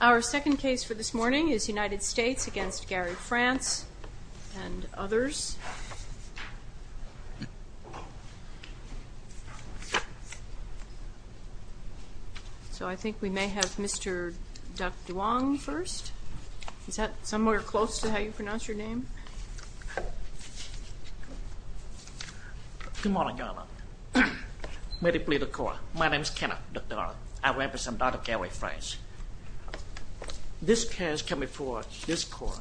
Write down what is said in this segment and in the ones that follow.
Our second case for this morning is United States v. Gary France and others. So I think we may have Mr. Duc Duong first. Is that somewhere close to how you pronounce your name? Good morning, Your Honor. May they please the court. My name is Kenneth Duc Duong. I represent Dr. Gary France. This case comes before this court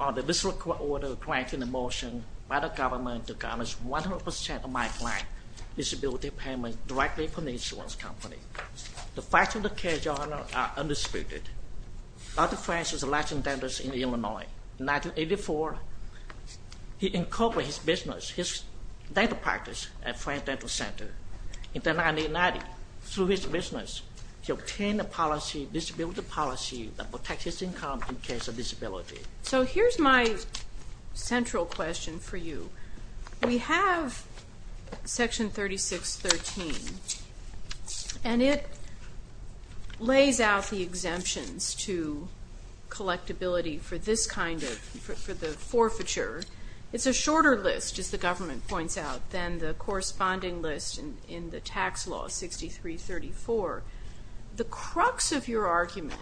on the visceral court order granting a motion by the government to garnish 100% of my client's disability payment directly from the insurance company. The facts of the case, Your Honor, are undisputed. Dr. France is a licensed dentist in Illinois. In 1984, he incorporated his business, his dental practice at France Dental Center. In 1990, through his business, he obtained a policy, disability policy, that protects his income in case of disability. So here's my central question for you. We have Section 3613, and it lays out the exemptions to collectibility for this kind of, for the forfeiture. It's a shorter list, as the government points out, than the corresponding list in the tax law 6334. The crux of your argument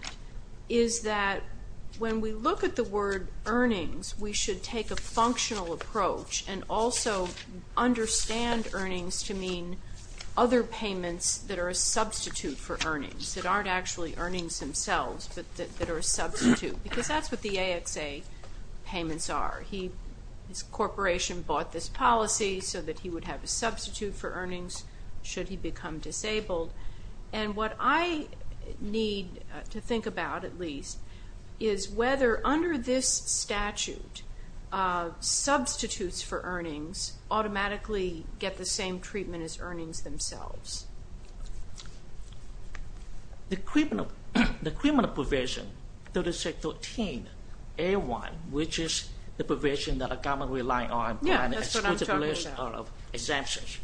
is that when we look at the word earnings, we should take a functional approach and also understand earnings to mean other payments that are a substitute for earnings, that aren't actually earnings themselves, but that are a substitute, because that's what the AXA payments are. His corporation bought this policy so that he would have a substitute for earnings should he become disabled. And what I need to think about, at least, is whether under this statute, substitutes for earnings automatically get the same treatment as earnings themselves. The criminal, the criminal provision, 3613A1, which is the provision that the government relies on- Yeah, that's what I'm talking about. Exemptions.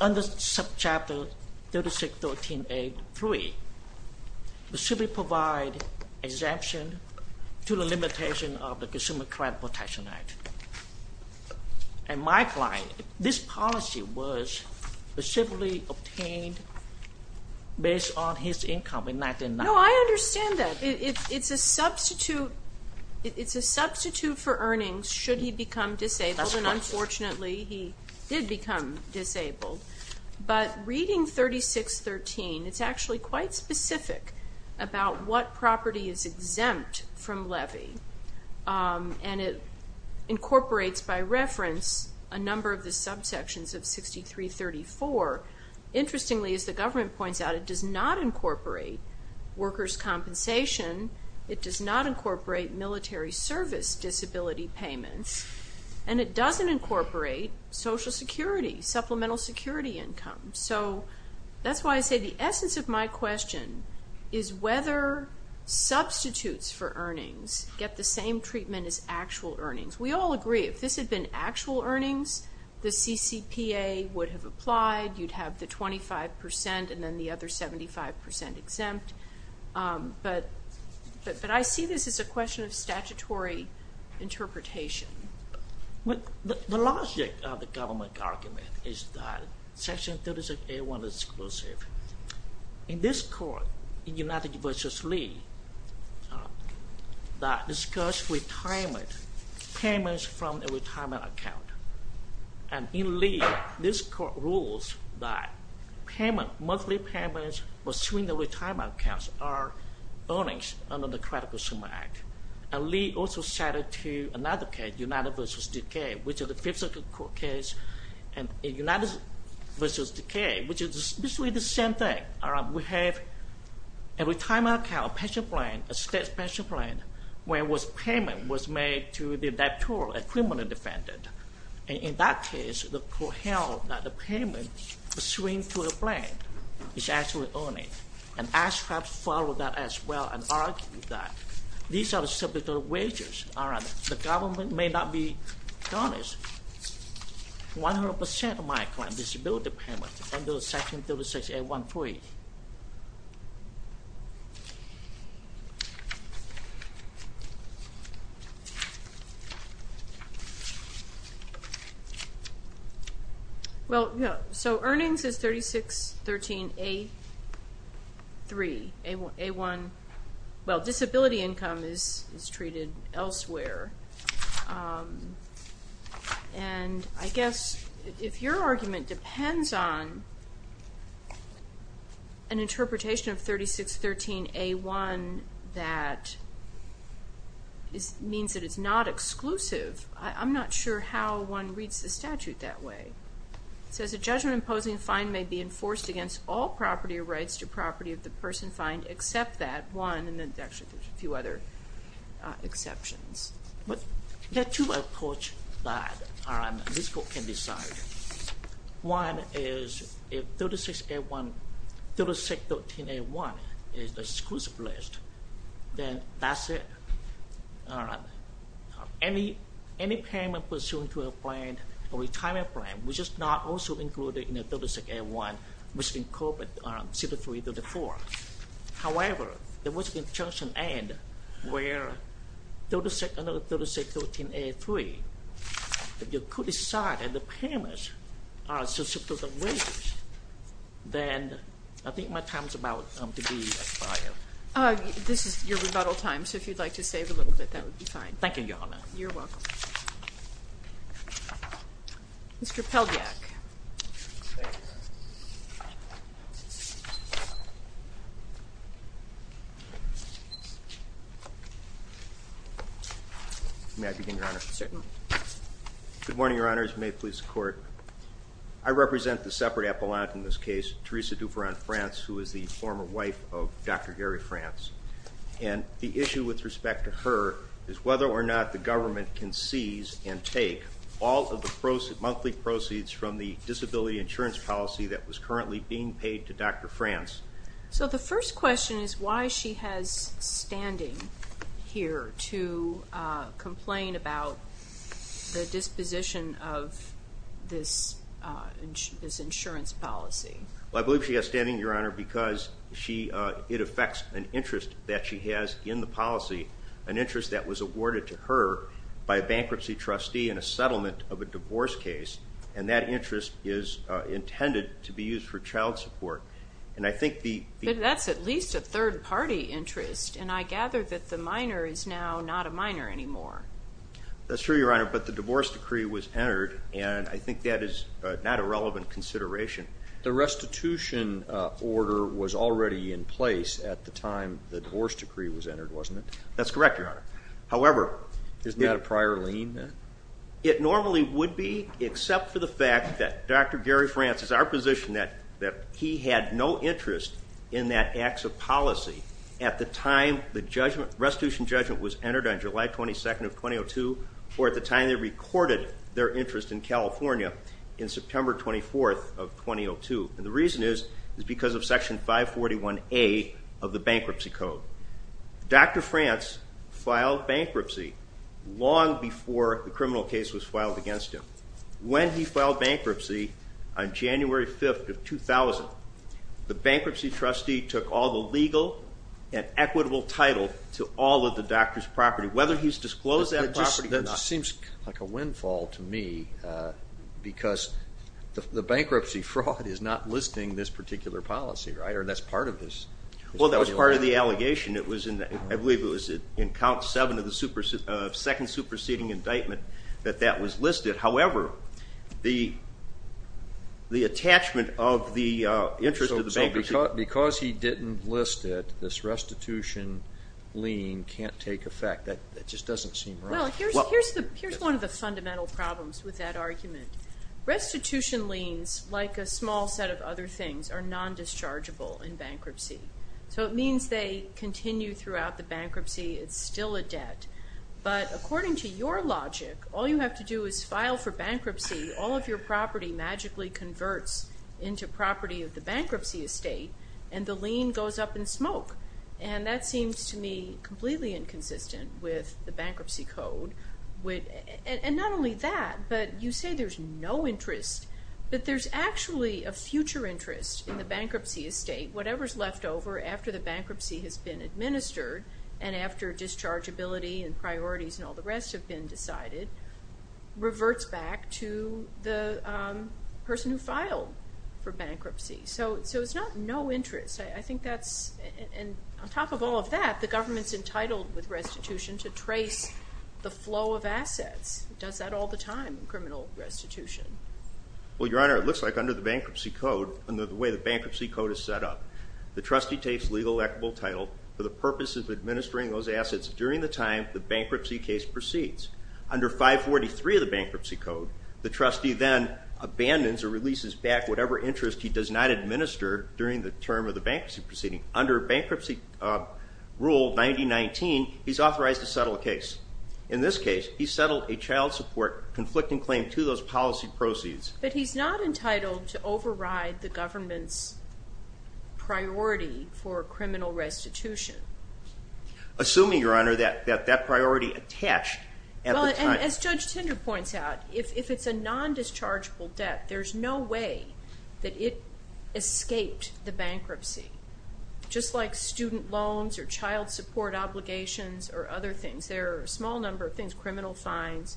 Under Subchapter 3613A3, it should be provided exemption to the limitation of the Consumer Credit Protection Act. And my client, this policy was specifically obtained based on his income in 1990. No, I understand that. It's a substitute for earnings should he become disabled. And unfortunately, he did become disabled. But reading 3613, it's actually quite specific about what property is exempt from levy. And it incorporates, by reference, a number of the subsections of 6334. Interestingly, as the government points out, it does not incorporate workers' compensation. It does not incorporate military service disability payments. And it doesn't incorporate Social Security, supplemental security income. So that's why I say the essence of my question is whether substitutes for earnings get the same treatment as actual earnings. We all agree if this had been actual earnings, the CCPA would have applied. You'd have the 25% and then the other 75% exempt. But I see this as a question of statutory interpretation. The logic of the government argument is that Section 36A1 is exclusive. In this court, in United v. Lee, that discuss retirement, payments from a retirement account. And in Lee, this court rules that payment, monthly payments pursuing the retirement accounts are earnings under the Credit Consumer Act. And Lee also cited to another case, United v. Duque, which is the fifth circuit court case. And in United v. Duque, which is basically the same thing. We have a retirement account, a pension plan, a state pension plan, where payment was made to the deputy criminal defendant. And in that case, the court held that the payment pursuing to the plan is actually earnings. And ASCAP followed that as well and argued that. These are the subject of wages. The government may not be honest. 100% of my client disability payment under Section 36A1-3. Well, so earnings is 3613A3. A1, well, disability income is treated elsewhere. And I guess if your argument depends on an interpretation of 3613A1 that means that it's not exclusive, I'm not sure how one reads the statute that way. It says a judgment imposing a fine may be enforced against all property rights to property of the person fined except that one. And there's actually a few other exceptions. But there are two approaches that this court can decide. One is if 3613A1 is the exclusive list, then that's it. Any payment pursuant to a plan, a retirement plan, which is not also included in the 36A1, must be covered under 6334. However, there must be a junction end where 3613A3. If the court decided the payment is exclusive to the wages, then I think my time is about to be expired. This is your rebuttal time, so if you'd like to save a little bit, that would be fine. Thank you, Your Honor. You're welcome. Mr. Peldyak. Thank you, Your Honor. May I begin, Your Honor? Good morning, Your Honors. May it please the Court. I represent the separate appellant in this case, Theresa Dufour on France, who is the former wife of Dr. Gary France. And the issue with respect to her is whether or not the government can seize and take all of the monthly proceeds from the disability insurance policy that was currently being paid to Dr. France. So the first question is why she has standing here to complain about the disposition of this insurance policy. Well, I believe she has standing, Your Honor, because it affects an interest that she has in the policy, an interest that was awarded to her by a bankruptcy trustee in a settlement of a divorce case. And that interest is intended to be used for child support. And I think the But that's at least a third-party interest, and I gather that the minor is now not a minor anymore. That's true, Your Honor, but the divorce decree was entered, and I think that is not a relevant consideration. The restitution order was already in place at the time the divorce decree was entered, wasn't it? That's correct, Your Honor. However Isn't that a prior lien then? It normally would be, except for the fact that Dr. Gary France is our position that he had no interest in that acts of policy at the time the restitution judgment was entered on July 22nd of 2002, or at the time they recorded their interest in California in September 24th of 2002. And the reason is because of Section 541A of the Bankruptcy Code. Dr. France filed bankruptcy long before the criminal case was filed against him. When he filed bankruptcy on January 5th of 2000, the bankruptcy trustee took all the legal and equitable title to all of the doctor's property, whether he's disclosed that property or not. It just seems like a windfall to me because the bankruptcy fraud is not listing this particular policy, right? Or that's part of this. Well, that was part of the allegation. I believe it was in Count 7 of the second superseding indictment that that was listed. However, the attachment of the interest of the bankruptcy Because he didn't list it, this restitution lien can't take effect. That just doesn't seem right. Well, here's one of the fundamental problems with that argument. Restitution liens, like a small set of other things, are non-dischargeable in bankruptcy. So it means they continue throughout the bankruptcy. It's still a debt. But according to your logic, all you have to do is file for bankruptcy. All of your property magically converts into property of the bankruptcy estate, and the lien goes up in smoke. And that seems to me completely inconsistent with the Bankruptcy Code. And not only that, but you say there's no interest. But there's actually a future interest in the bankruptcy estate. Whatever's left over after the bankruptcy has been administered, and after dischargeability and priorities and all the rest have been decided, reverts back to the person who filed for bankruptcy. So it's not no interest. I think that's, and on top of all of that, the government's entitled with restitution to trace the flow of assets. It does that all the time in criminal restitution. Well, Your Honor, it looks like under the Bankruptcy Code and the way the Bankruptcy Code is set up, the trustee takes legal equitable title for the purpose of administering those assets during the time the bankruptcy case proceeds. Under 543 of the Bankruptcy Code, the trustee then abandons or releases back whatever interest he does not administer during the term of the bankruptcy proceeding. Under Bankruptcy Rule 9019, he's authorized to settle a case. In this case, he settled a child support conflicting claim to those policy proceeds. But he's not entitled to override the government's priority for criminal restitution. Assuming, Your Honor, that that priority attached at the time. As Judge Tinder points out, if it's a non-dischargeable debt, there's no way that it escaped the bankruptcy. Just like student loans or child support obligations or other things. There are a small number of things, criminal fines,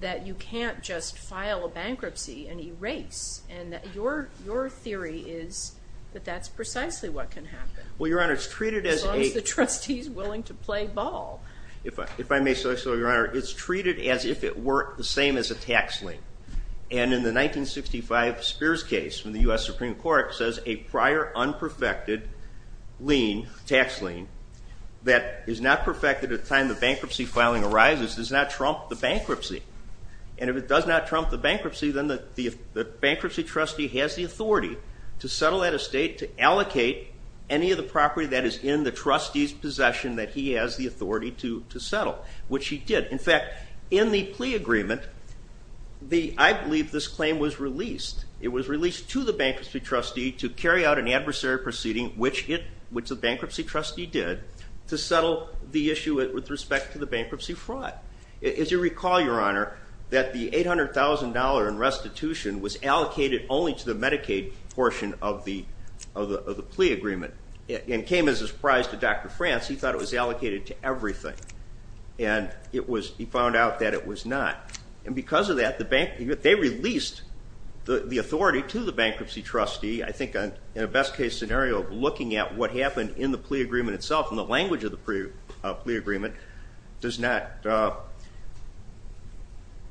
that you can't just file a bankruptcy and erase. And your theory is that that's precisely what can happen. Well, Your Honor, it's treated as a... As long as the trustee's willing to play ball. If I may say so, Your Honor, it's treated as if it were the same as a tax lien. And in the 1965 Spears case from the U.S. Supreme Court, it says a prior unperfected tax lien that is not perfected at the time the bankruptcy filing arises does not trump the bankruptcy. And if it does not trump the bankruptcy, then the bankruptcy trustee has the authority to settle that estate, to allocate any of the property that is in the trustee's possession that he has the authority to settle, which he did. In fact, in the plea agreement, I believe this claim was released. It was released to the bankruptcy trustee to carry out an adversary proceeding, which the bankruptcy trustee did, to settle the issue with respect to the bankruptcy fraud. As you recall, Your Honor, that the $800,000 in restitution was allocated only to the Medicaid portion of the plea agreement and came as a surprise to Dr. France. He thought it was allocated to everything, and he found out that it was not. And because of that, they released the authority to the bankruptcy trustee, I think in a best-case scenario of looking at what happened in the plea agreement itself and the language of the plea agreement does not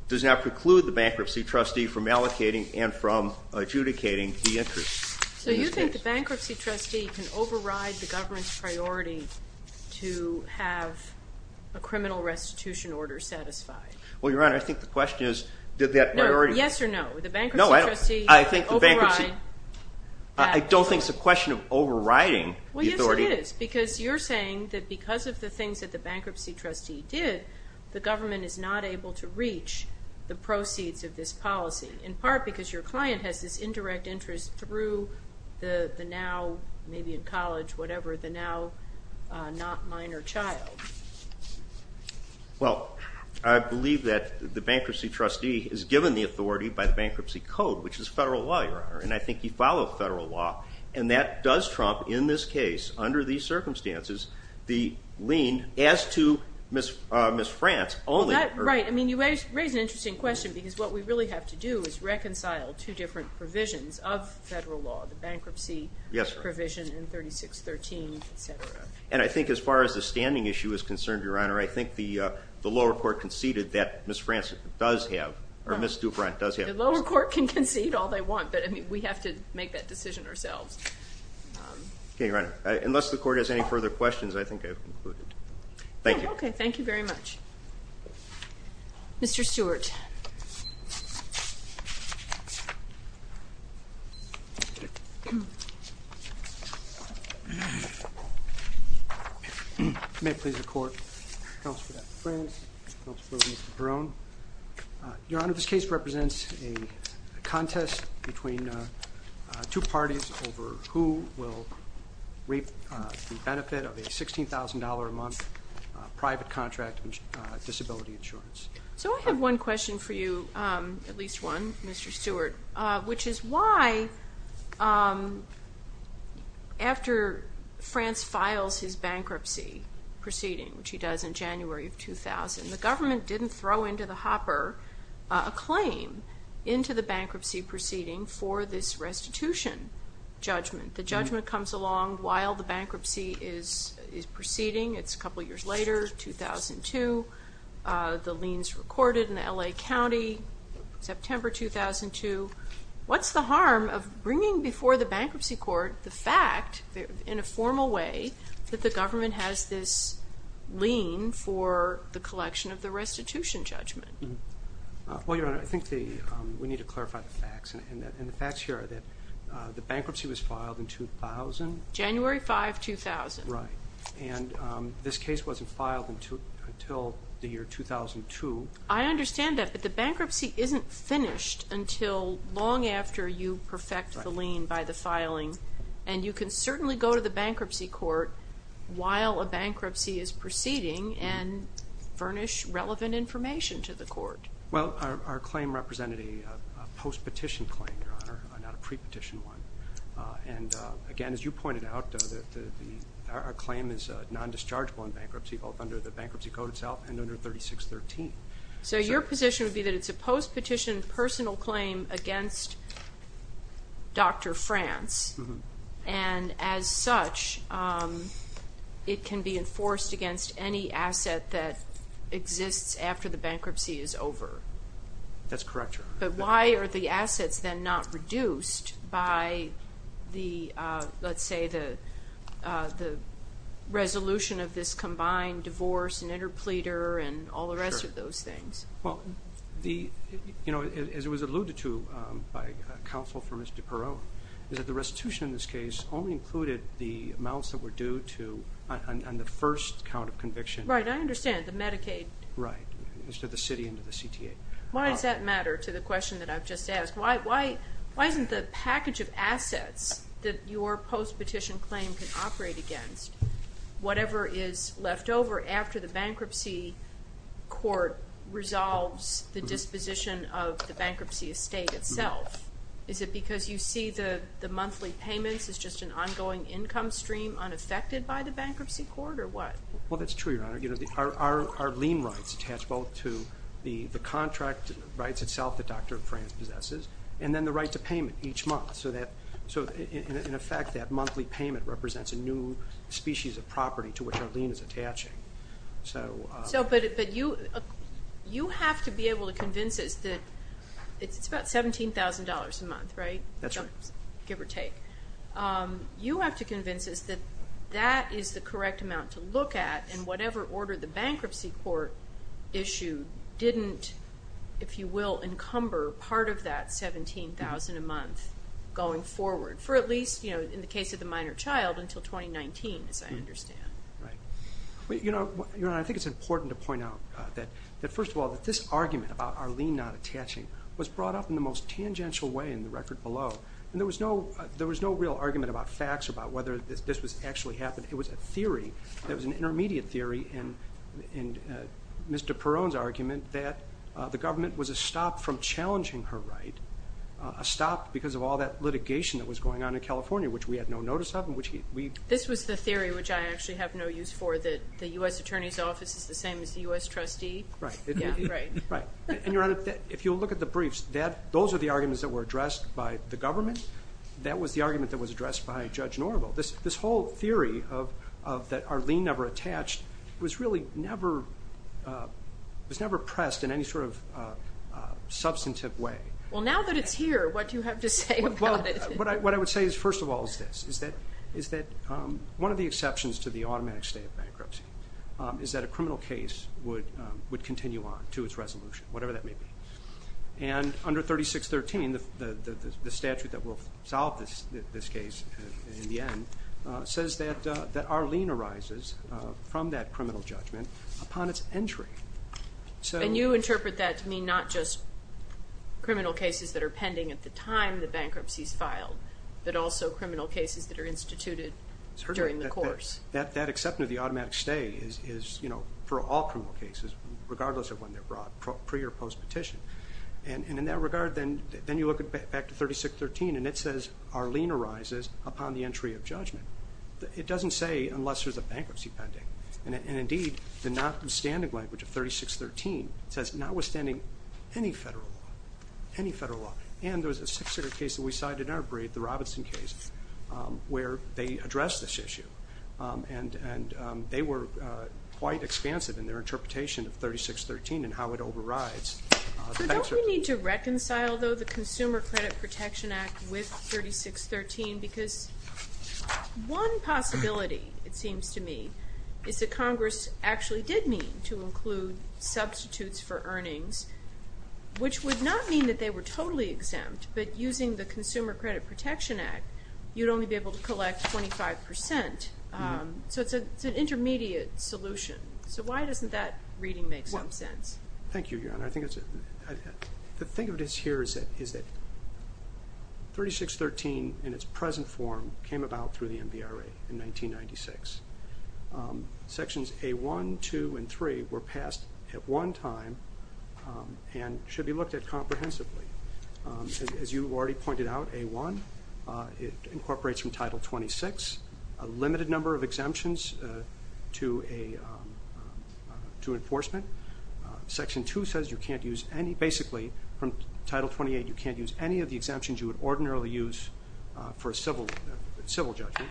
preclude the bankruptcy trustee from allocating and from adjudicating the interest. So you think the bankruptcy trustee can override the government's priority to have a criminal restitution order satisfied? Well, Your Honor, I think the question is did that priority... No, yes or no? The bankruptcy trustee can override... I don't think it's a question of overriding the authority. Well, yes, it is because you're saying that because of the things that the bankruptcy trustee did, the government is not able to reach the proceeds of this policy, in part because your client has this indirect interest through the now, maybe in college, whatever, the now not minor child. Well, I believe that the bankruptcy trustee is given the authority by the bankruptcy code, which is federal law, Your Honor, and I think you follow federal law, and that does trump, in this case, under these circumstances, the lien as to Ms. France only. Right, I mean, you raise an interesting question, because what we really have to do is reconcile two different provisions of federal law, the bankruptcy provision in 3613, et cetera. And I think as far as the standing issue is concerned, Your Honor, I think the lower court conceded that Ms. France does have, or Ms. Dupont does have... The lower court can concede all they want, but we have to make that decision ourselves. Okay, Your Honor, unless the court has any further questions, I think I've concluded. Thank you. Okay, thank you very much. Mr. Stewart. May it please the Court. Counsel for Ms. France, counsel for Mr. Perrone. Your Honor, this case represents a contest between two parties over who will reap the benefit of a $16,000 a month private contract disability insurance. So I have one question for you, at least one, Mr. Stewart, which is why after France files his bankruptcy proceeding, which he does in January of 2000, the government didn't throw into the hopper a claim into the bankruptcy proceeding for this restitution judgment. The judgment comes along while the bankruptcy is proceeding. It's a couple years later, 2002. The lien's recorded in the L.A. County, September 2002. What's the harm of bringing before the bankruptcy court the fact, in a formal way, that the government has this lien for the collection of the restitution judgment? Well, Your Honor, I think we need to clarify the facts. And the facts here are that the bankruptcy was filed in 2000. January 5, 2000. Right. And this case wasn't filed until the year 2002. I understand that, but the bankruptcy isn't finished until long after you perfect the lien by the filing. And you can certainly go to the bankruptcy court while a bankruptcy is proceeding and furnish relevant information to the court. Well, our claim represented a post-petition claim, Your Honor, not a pre-petition one. And, again, as you pointed out, our claim is non-dischargeable in bankruptcy, both under the bankruptcy code itself and under 3613. So your position would be that it's a post-petition personal claim against Dr. France. And, as such, it can be enforced against any asset that exists after the bankruptcy is over. That's correct, Your Honor. But why are the assets then not reduced by the, let's say, the resolution of this combined divorce and interpleader and all the rest of those things? Well, you know, as it was alluded to by counsel for Ms. DiPero, is that the restitution in this case only included the amounts that were due on the first count of conviction. Right, I understand, the Medicaid. Right, to the city and to the CTA. Why does that matter to the question that I've just asked? Why isn't the package of assets that your post-petition claim can operate against whatever is left over after the bankruptcy court resolves the disposition of the bankruptcy estate itself? Is it because you see the monthly payments as just an ongoing income stream unaffected by the bankruptcy court, or what? Well, that's true, Your Honor. Our lien rights attach both to the contract rights itself that Dr. Franz possesses, and then the right to payment each month. So, in effect, that monthly payment represents a new species of property to which our lien is attaching. So, but you have to be able to convince us that it's about $17,000 a month, right? That's right. Give or take. You have to convince us that that is the correct amount to look at, and whatever order the bankruptcy court issued didn't, if you will, encumber part of that $17,000 a month going forward. For at least, you know, in the case of the minor child, until 2019, as I understand. Right. You know, Your Honor, I think it's important to point out that, first of all, that this argument about our lien not attaching was brought up in the most tangential way in the record below. And there was no real argument about facts or about whether this was actually happening. It was a theory. It was an intermediate theory in Mr. Perrone's argument that the government was a stop from challenging her right, a stop because of all that litigation that was going on in California, which we had no notice of. This was the theory, which I actually have no use for, that the U.S. Attorney's Office is the same as the U.S. Trustee. Right. Right. And, Your Honor, if you'll look at the briefs, those are the arguments that were addressed by the government. That was the argument that was addressed by Judge Norville. This whole theory that our lien never attached was really never pressed in any sort of substantive way. Well, now that it's here, what do you have to say about it? Well, what I would say is, first of all, is this, is that one of the exceptions to the automatic state of bankruptcy is that a criminal case would continue on to its resolution, whatever that may be. And under 3613, the statute that will solve this case in the end, says that our lien arises from that criminal judgment upon its entry. And you interpret that to mean not just criminal cases that are pending at the time the bankruptcy is filed, but also criminal cases that are instituted during the course. That exception to the automatic state is, you know, for all criminal cases, regardless of when they're brought, pre- or post-petition. And in that regard, then you look back to 3613, and it says our lien arises upon the entry of judgment. It doesn't say unless there's a bankruptcy pending. And, indeed, the notwithstanding language of 3613 says notwithstanding any federal law, any federal law. And there was a six-figure case that we cited in our brief, the Robinson case, where they addressed this issue. And they were quite expansive in their interpretation of 3613 and how it overrides. So don't we need to reconcile, though, the Consumer Credit Protection Act with 3613? Because one possibility, it seems to me, is that Congress actually did mean to include substitutes for earnings, which would not mean that they were totally exempt. But using the Consumer Credit Protection Act, you'd only be able to collect 25 percent. So it's an intermediate solution. So why doesn't that reading make some sense? Thank you, Your Honor. I think the thing of it here is that 3613 in its present form came about through the MVRA in 1996. Sections A1, 2, and 3 were passed at one time and should be looked at comprehensively. As you already pointed out, A1 incorporates from Title 26 a limited number of exemptions to enforcement. Section 2 says you can't use any, basically, from Title 28 you can't use any of the exemptions you would ordinarily use for a civil judgment.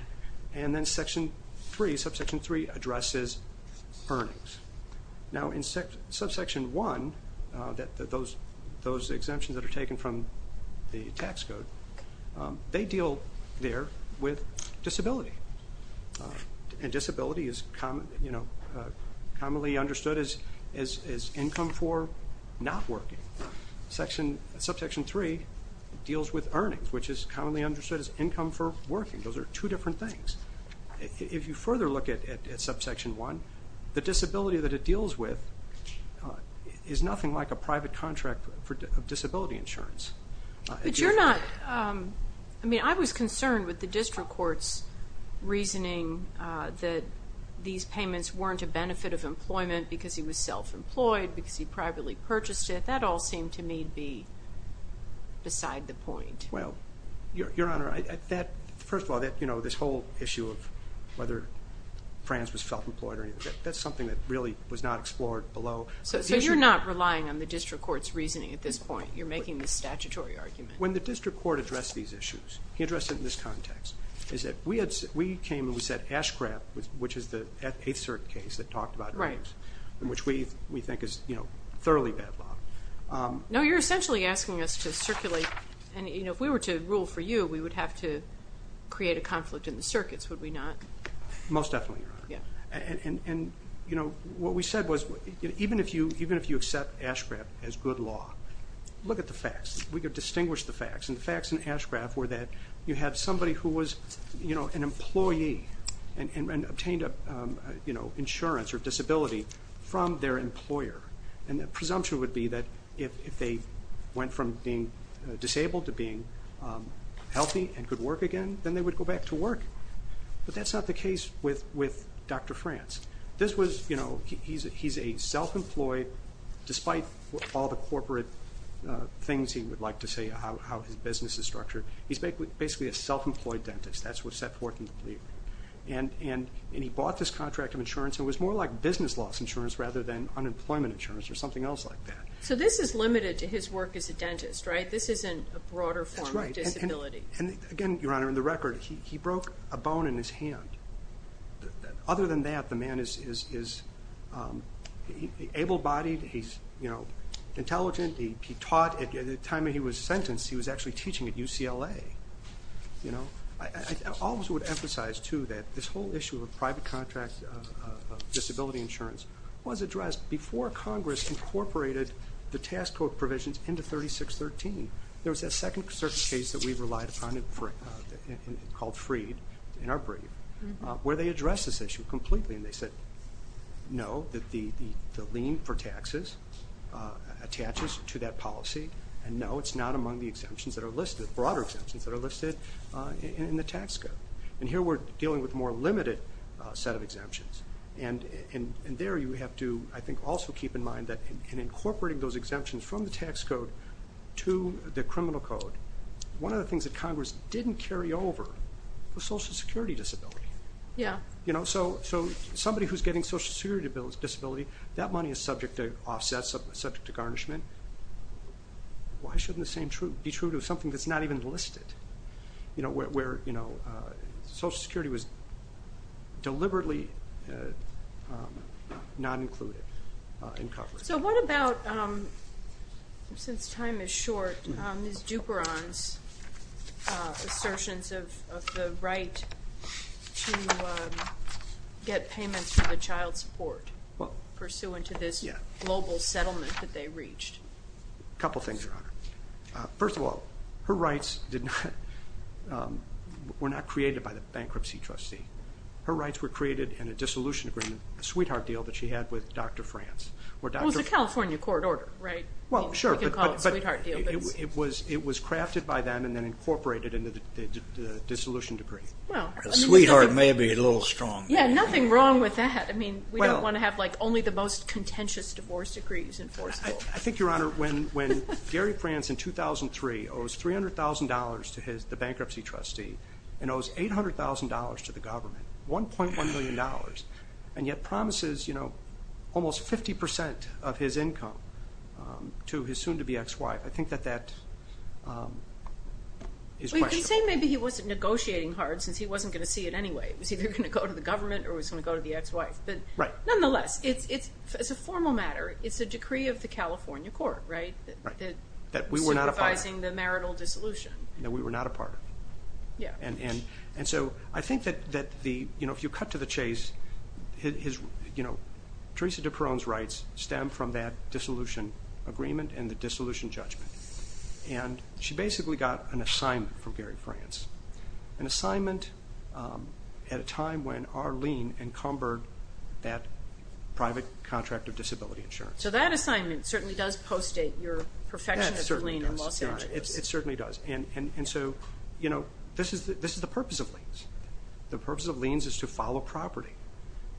And then Section 3, Subsection 3, addresses earnings. Now, in Subsection 1, those exemptions that are taken from the tax code, they deal there with disability. And disability is commonly understood as income for not working. Subsection 3 deals with earnings, which is commonly understood as income for working. Those are two different things. If you further look at Subsection 1, the disability that it deals with is nothing like a private contract for disability insurance. But you're not, I mean, I was concerned with the district court's reasoning that these payments weren't a benefit of employment because he was self-employed, because he privately purchased it. That all seemed to me to be beside the point. Well, Your Honor, first of all, this whole issue of whether Frans was self-employed or anything, that's something that really was not explored below. So you're not relying on the district court's reasoning at this point? No. You're making this statutory argument? When the district court addressed these issues, he addressed it in this context, is that we came and we said Ashcraft, which is the 8th Circuit case that talked about drugs, which we think is thoroughly bad law. No, you're essentially asking us to circulate, and if we were to rule for you, we would have to create a conflict in the circuits, would we not? Most definitely, Your Honor. And what we said was even if you accept Ashcraft as good law, look at the facts. We could distinguish the facts, and the facts in Ashcraft were that you had somebody who was an employee and obtained insurance or disability from their employer. And the presumption would be that if they went from being disabled to being healthy and could work again, then they would go back to work. But that's not the case with Dr. Frans. This was, you know, he's a self-employed, despite all the corporate things he would like to say, how his business is structured, he's basically a self-employed dentist. That's what's set forth in the plea. And he bought this contract of insurance, and it was more like business loss insurance rather than unemployment insurance or something else like that. So this is limited to his work as a dentist, right? This isn't a broader form of disability. That's right. And again, Your Honor, in the record, he broke a bone in his hand. Other than that, the man is able-bodied, he's intelligent, he taught. At the time he was sentenced, he was actually teaching at UCLA. You know, I always would emphasize, too, that this whole issue of private contract disability insurance was addressed before Congress incorporated the task code provisions into 3613. There was a second case that we relied upon called Freed in our brief, where they addressed this issue completely, and they said, no, the lien for taxes attaches to that policy, and no, it's not among the exemptions that are listed, broader exemptions that are listed in the tax code. And here we're dealing with a more limited set of exemptions. And there you have to, I think, also keep in mind that in incorporating those exemptions from the tax code to the criminal code, one of the things that Congress didn't carry over was Social Security disability. Yeah. So somebody who's getting Social Security disability, that money is subject to offsets, subject to garnishment. Why shouldn't the same be true to something that's not even listed, where Social Security was deliberately not included in Congress? So what about, since time is short, Ms. Duperon's assertions of the right to get payments for the child support, pursuant to this global settlement that they reached? A couple things, Your Honor. First of all, her rights were not created by the bankruptcy trustee. Her rights were created in a dissolution agreement, a sweetheart deal that she had with Dr. France. It was a California court order, right? Well, sure, but it was crafted by them and then incorporated into the dissolution decree. The sweetheart may be a little strong. Yeah, nothing wrong with that. I mean, we don't want to have only the most contentious divorce decrees in force. I think, Your Honor, when Gary France, in 2003, owes $300,000 to the bankruptcy trustee and owes $800,000 to the government, $1.1 million, and yet promises almost 50% of his income to his soon-to-be ex-wife, I think that that is questionable. Well, you can say maybe he wasn't negotiating hard since he wasn't going to see it anyway. It was either going to go to the government or it was going to go to the ex-wife. Right. Nonetheless, as a formal matter, it's a decree of the California court, right? Right, that we were not a part of. Supervising the marital dissolution. That we were not a part of. Yeah. And so I think that the, you know, if you cut to the chase, his, you know, Theresa de Peron's rights stem from that dissolution agreement and the dissolution judgment. And she basically got an assignment from Gary France, an assignment at a time when our lien encumbered that private contract of disability insurance. So that assignment certainly does post-date your perfectionist lien in Los Angeles. It certainly does. And so, you know, this is the purpose of liens. The purpose of liens is to follow property.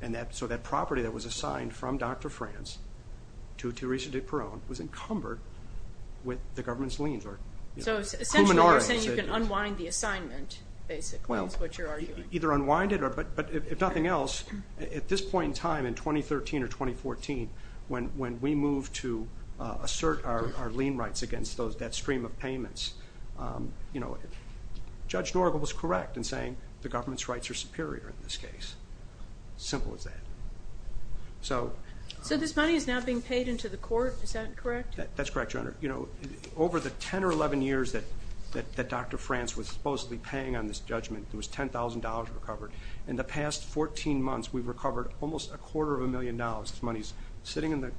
And so that property that was assigned from Dr. France to Theresa de Peron was encumbered with the government's liens. So essentially you're saying you can unwind the assignment, basically, is what you're arguing. Either unwind it, but if nothing else, at this point in time in 2013 or 2014, when we moved to assert our lien rights against that stream of payments, you know, Judge Norgal was correct in saying the government's rights are superior in this case. Simple as that. So this money is now being paid into the court. Is that correct? That's correct, Your Honor. You know, over the 10 or 11 years that Dr. France was supposedly paying on this judgment, it was $10,000 recovered. In the past 14 months, we've recovered almost a quarter of a million dollars. This money is sitting in the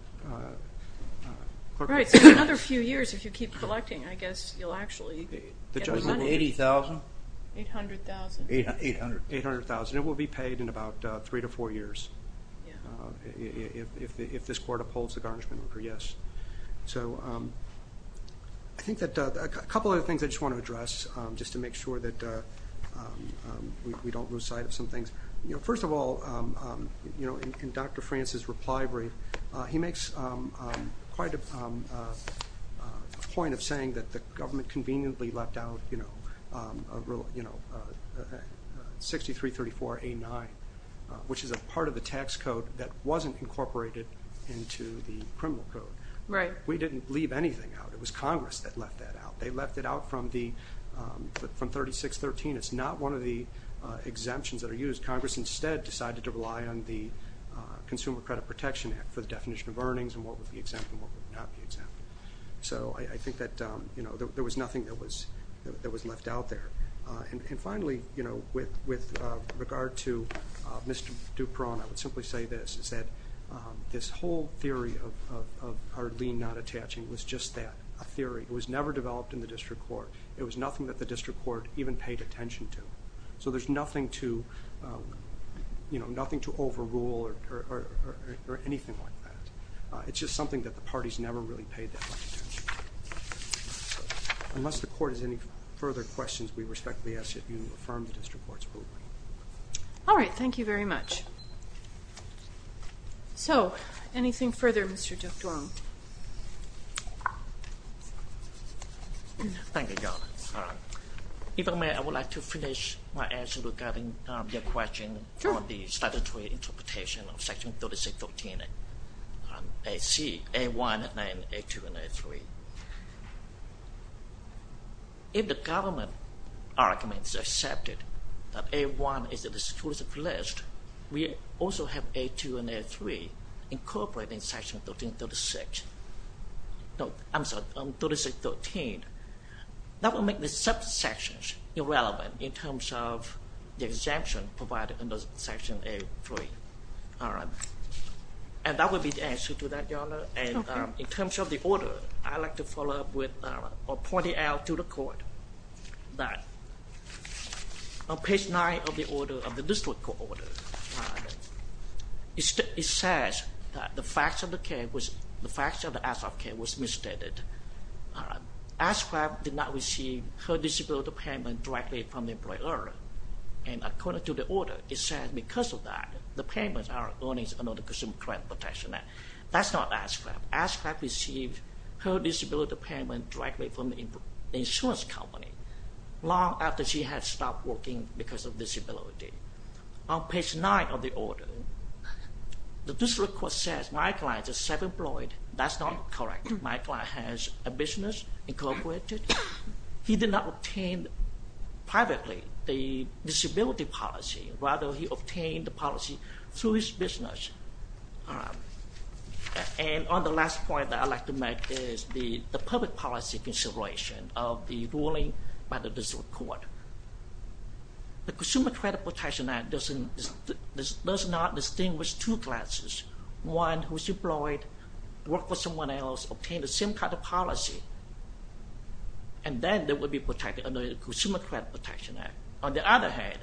court. Right. So in another few years, if you keep collecting, I guess you'll actually get the money. $80,000? $800,000. $800,000. It will be paid in about three to four years if this court upholds the garnishment order, yes. So I think that a couple of other things I just want to address, just to make sure that we don't lose sight of some things. First of all, in Dr. France's reply brief, he makes quite a point of saying that the government conveniently left out 6334A9, which is a part of the tax code that wasn't incorporated into the criminal code. Right. We didn't leave anything out. It was Congress that left that out. They left it out from 3613. It's not one of the exemptions that are used. Congress instead decided to rely on the Consumer Credit Protection Act for the definition of earnings and what would be exempt and what would not be exempt. So I think that there was nothing that was left out there. And finally, with regard to Mr. Dupron, I would simply say this, is that this whole theory of our lien not attaching was just that, a theory. It was never developed in the district court. It was nothing that the district court even paid attention to. So there's nothing to overrule or anything like that. It's just something that the parties never really paid that much attention to. Unless the court has any further questions, we respectfully ask that you affirm the district court's ruling. All right. Thank you very much. So anything further, Mr. Dupron? Thank you, Your Honor. If I may, I would like to finish my answer regarding your question on the statutory interpretation of Section 3613 AC, A1 and A2 and A3. If the government argument is accepted that A1 is the exclusive list, we also have A2 and A3 incorporated in Section 3613. That would make the subsections irrelevant in terms of the exemption provided under Section A3. And that would be the answer to that, Your Honor. And in terms of the order, I'd like to follow up with or point it out to the court that on page 9 of the order of the district court, it says that the facts of the case was misstated. ASCAP did not receive her disability payment directly from the employer. And according to the order, it says because of that, the payments are earnings under the Consumer Credit Protection Act. That's not ASCAP. ASCAP received her disability payment directly from the insurance company long after she had stopped working because of disability. On page 9 of the order, the district court says my client is self-employed. That's not correct. My client has a business incorporated. He did not obtain privately the disability policy. Rather, he obtained the policy through his business. And on the last point that I'd like to make is the public policy consideration of the ruling by the district court. The Consumer Credit Protection Act does not distinguish two classes, one who is employed, work for someone else, obtain the same kind of policy, and then they would be protected under the Consumer Credit Protection Act. On the other hand,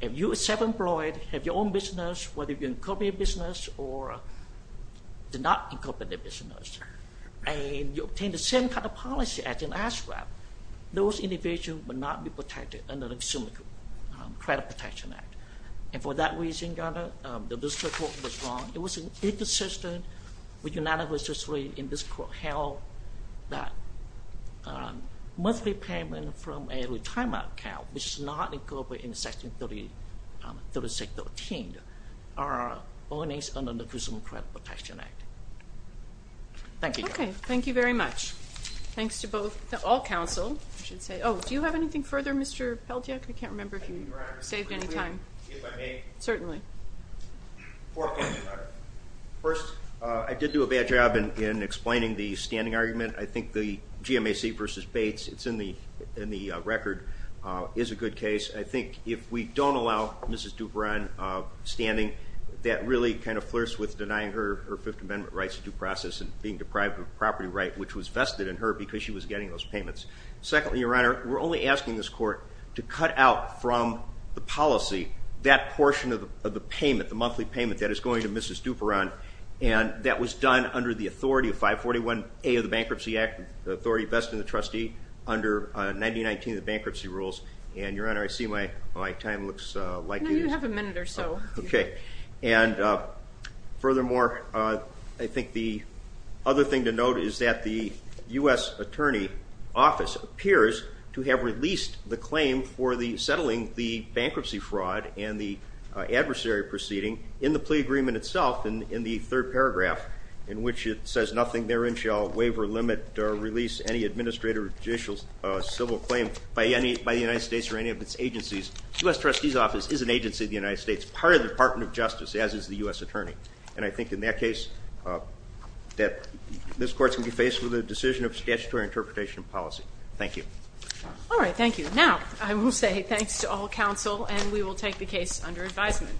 if you are self-employed, have your own business, whether you incorporate a business or do not incorporate a business, and you obtain the same kind of policy as in ASCAP, those individuals would not be protected under the Consumer Credit Protection Act. And for that reason, the district court was wrong. It was inconsistent with United Way's discipline, and this court held that monthly payment from a retirement account which is not incorporated in Section 3613, are ordinance under the Consumer Credit Protection Act. Thank you. Okay. Thank you very much. Thanks to all counsel. Oh, do you have anything further, Mr. Peltiek? I can't remember if you saved any time. If I may. Certainly. First, I did do a bad job in explaining the standing argument. I think the GMAC v. Bates, it's in the record, is a good case. I think if we don't allow Mrs. Duperon standing, that really kind of flirts with denying her her Fifth Amendment rights to due process and being deprived of a property right, which was vested in her because she was getting those payments. Secondly, Your Honor, we're only asking this court to cut out from the policy that portion of the payment, the monthly payment that is going to Mrs. Duperon, and that was done under the authority of 541A of the Bankruptcy Act, the authority vested in the trustee under 1919 of the bankruptcy rules. And, Your Honor, I see my time looks like it is. No, you have a minute or so. Okay. And furthermore, I think the other thing to note is that the U.S. Attorney Office appears to have released the claim for the settling the bankruptcy fraud and the adversary proceeding in the plea agreement itself in the third paragraph, in which it says, Nothing therein shall waive or limit or release any administrative or judicial civil claim by the United States or any of its agencies. The U.S. Trustee's Office is an agency of the United States, part of the Department of Justice, as is the U.S. Attorney. And I think in that case that this court is going to be faced with a decision of statutory interpretation of policy. Thank you. All right. Thank you. Now, I will say thanks to all counsel, and we will take the case under advisement.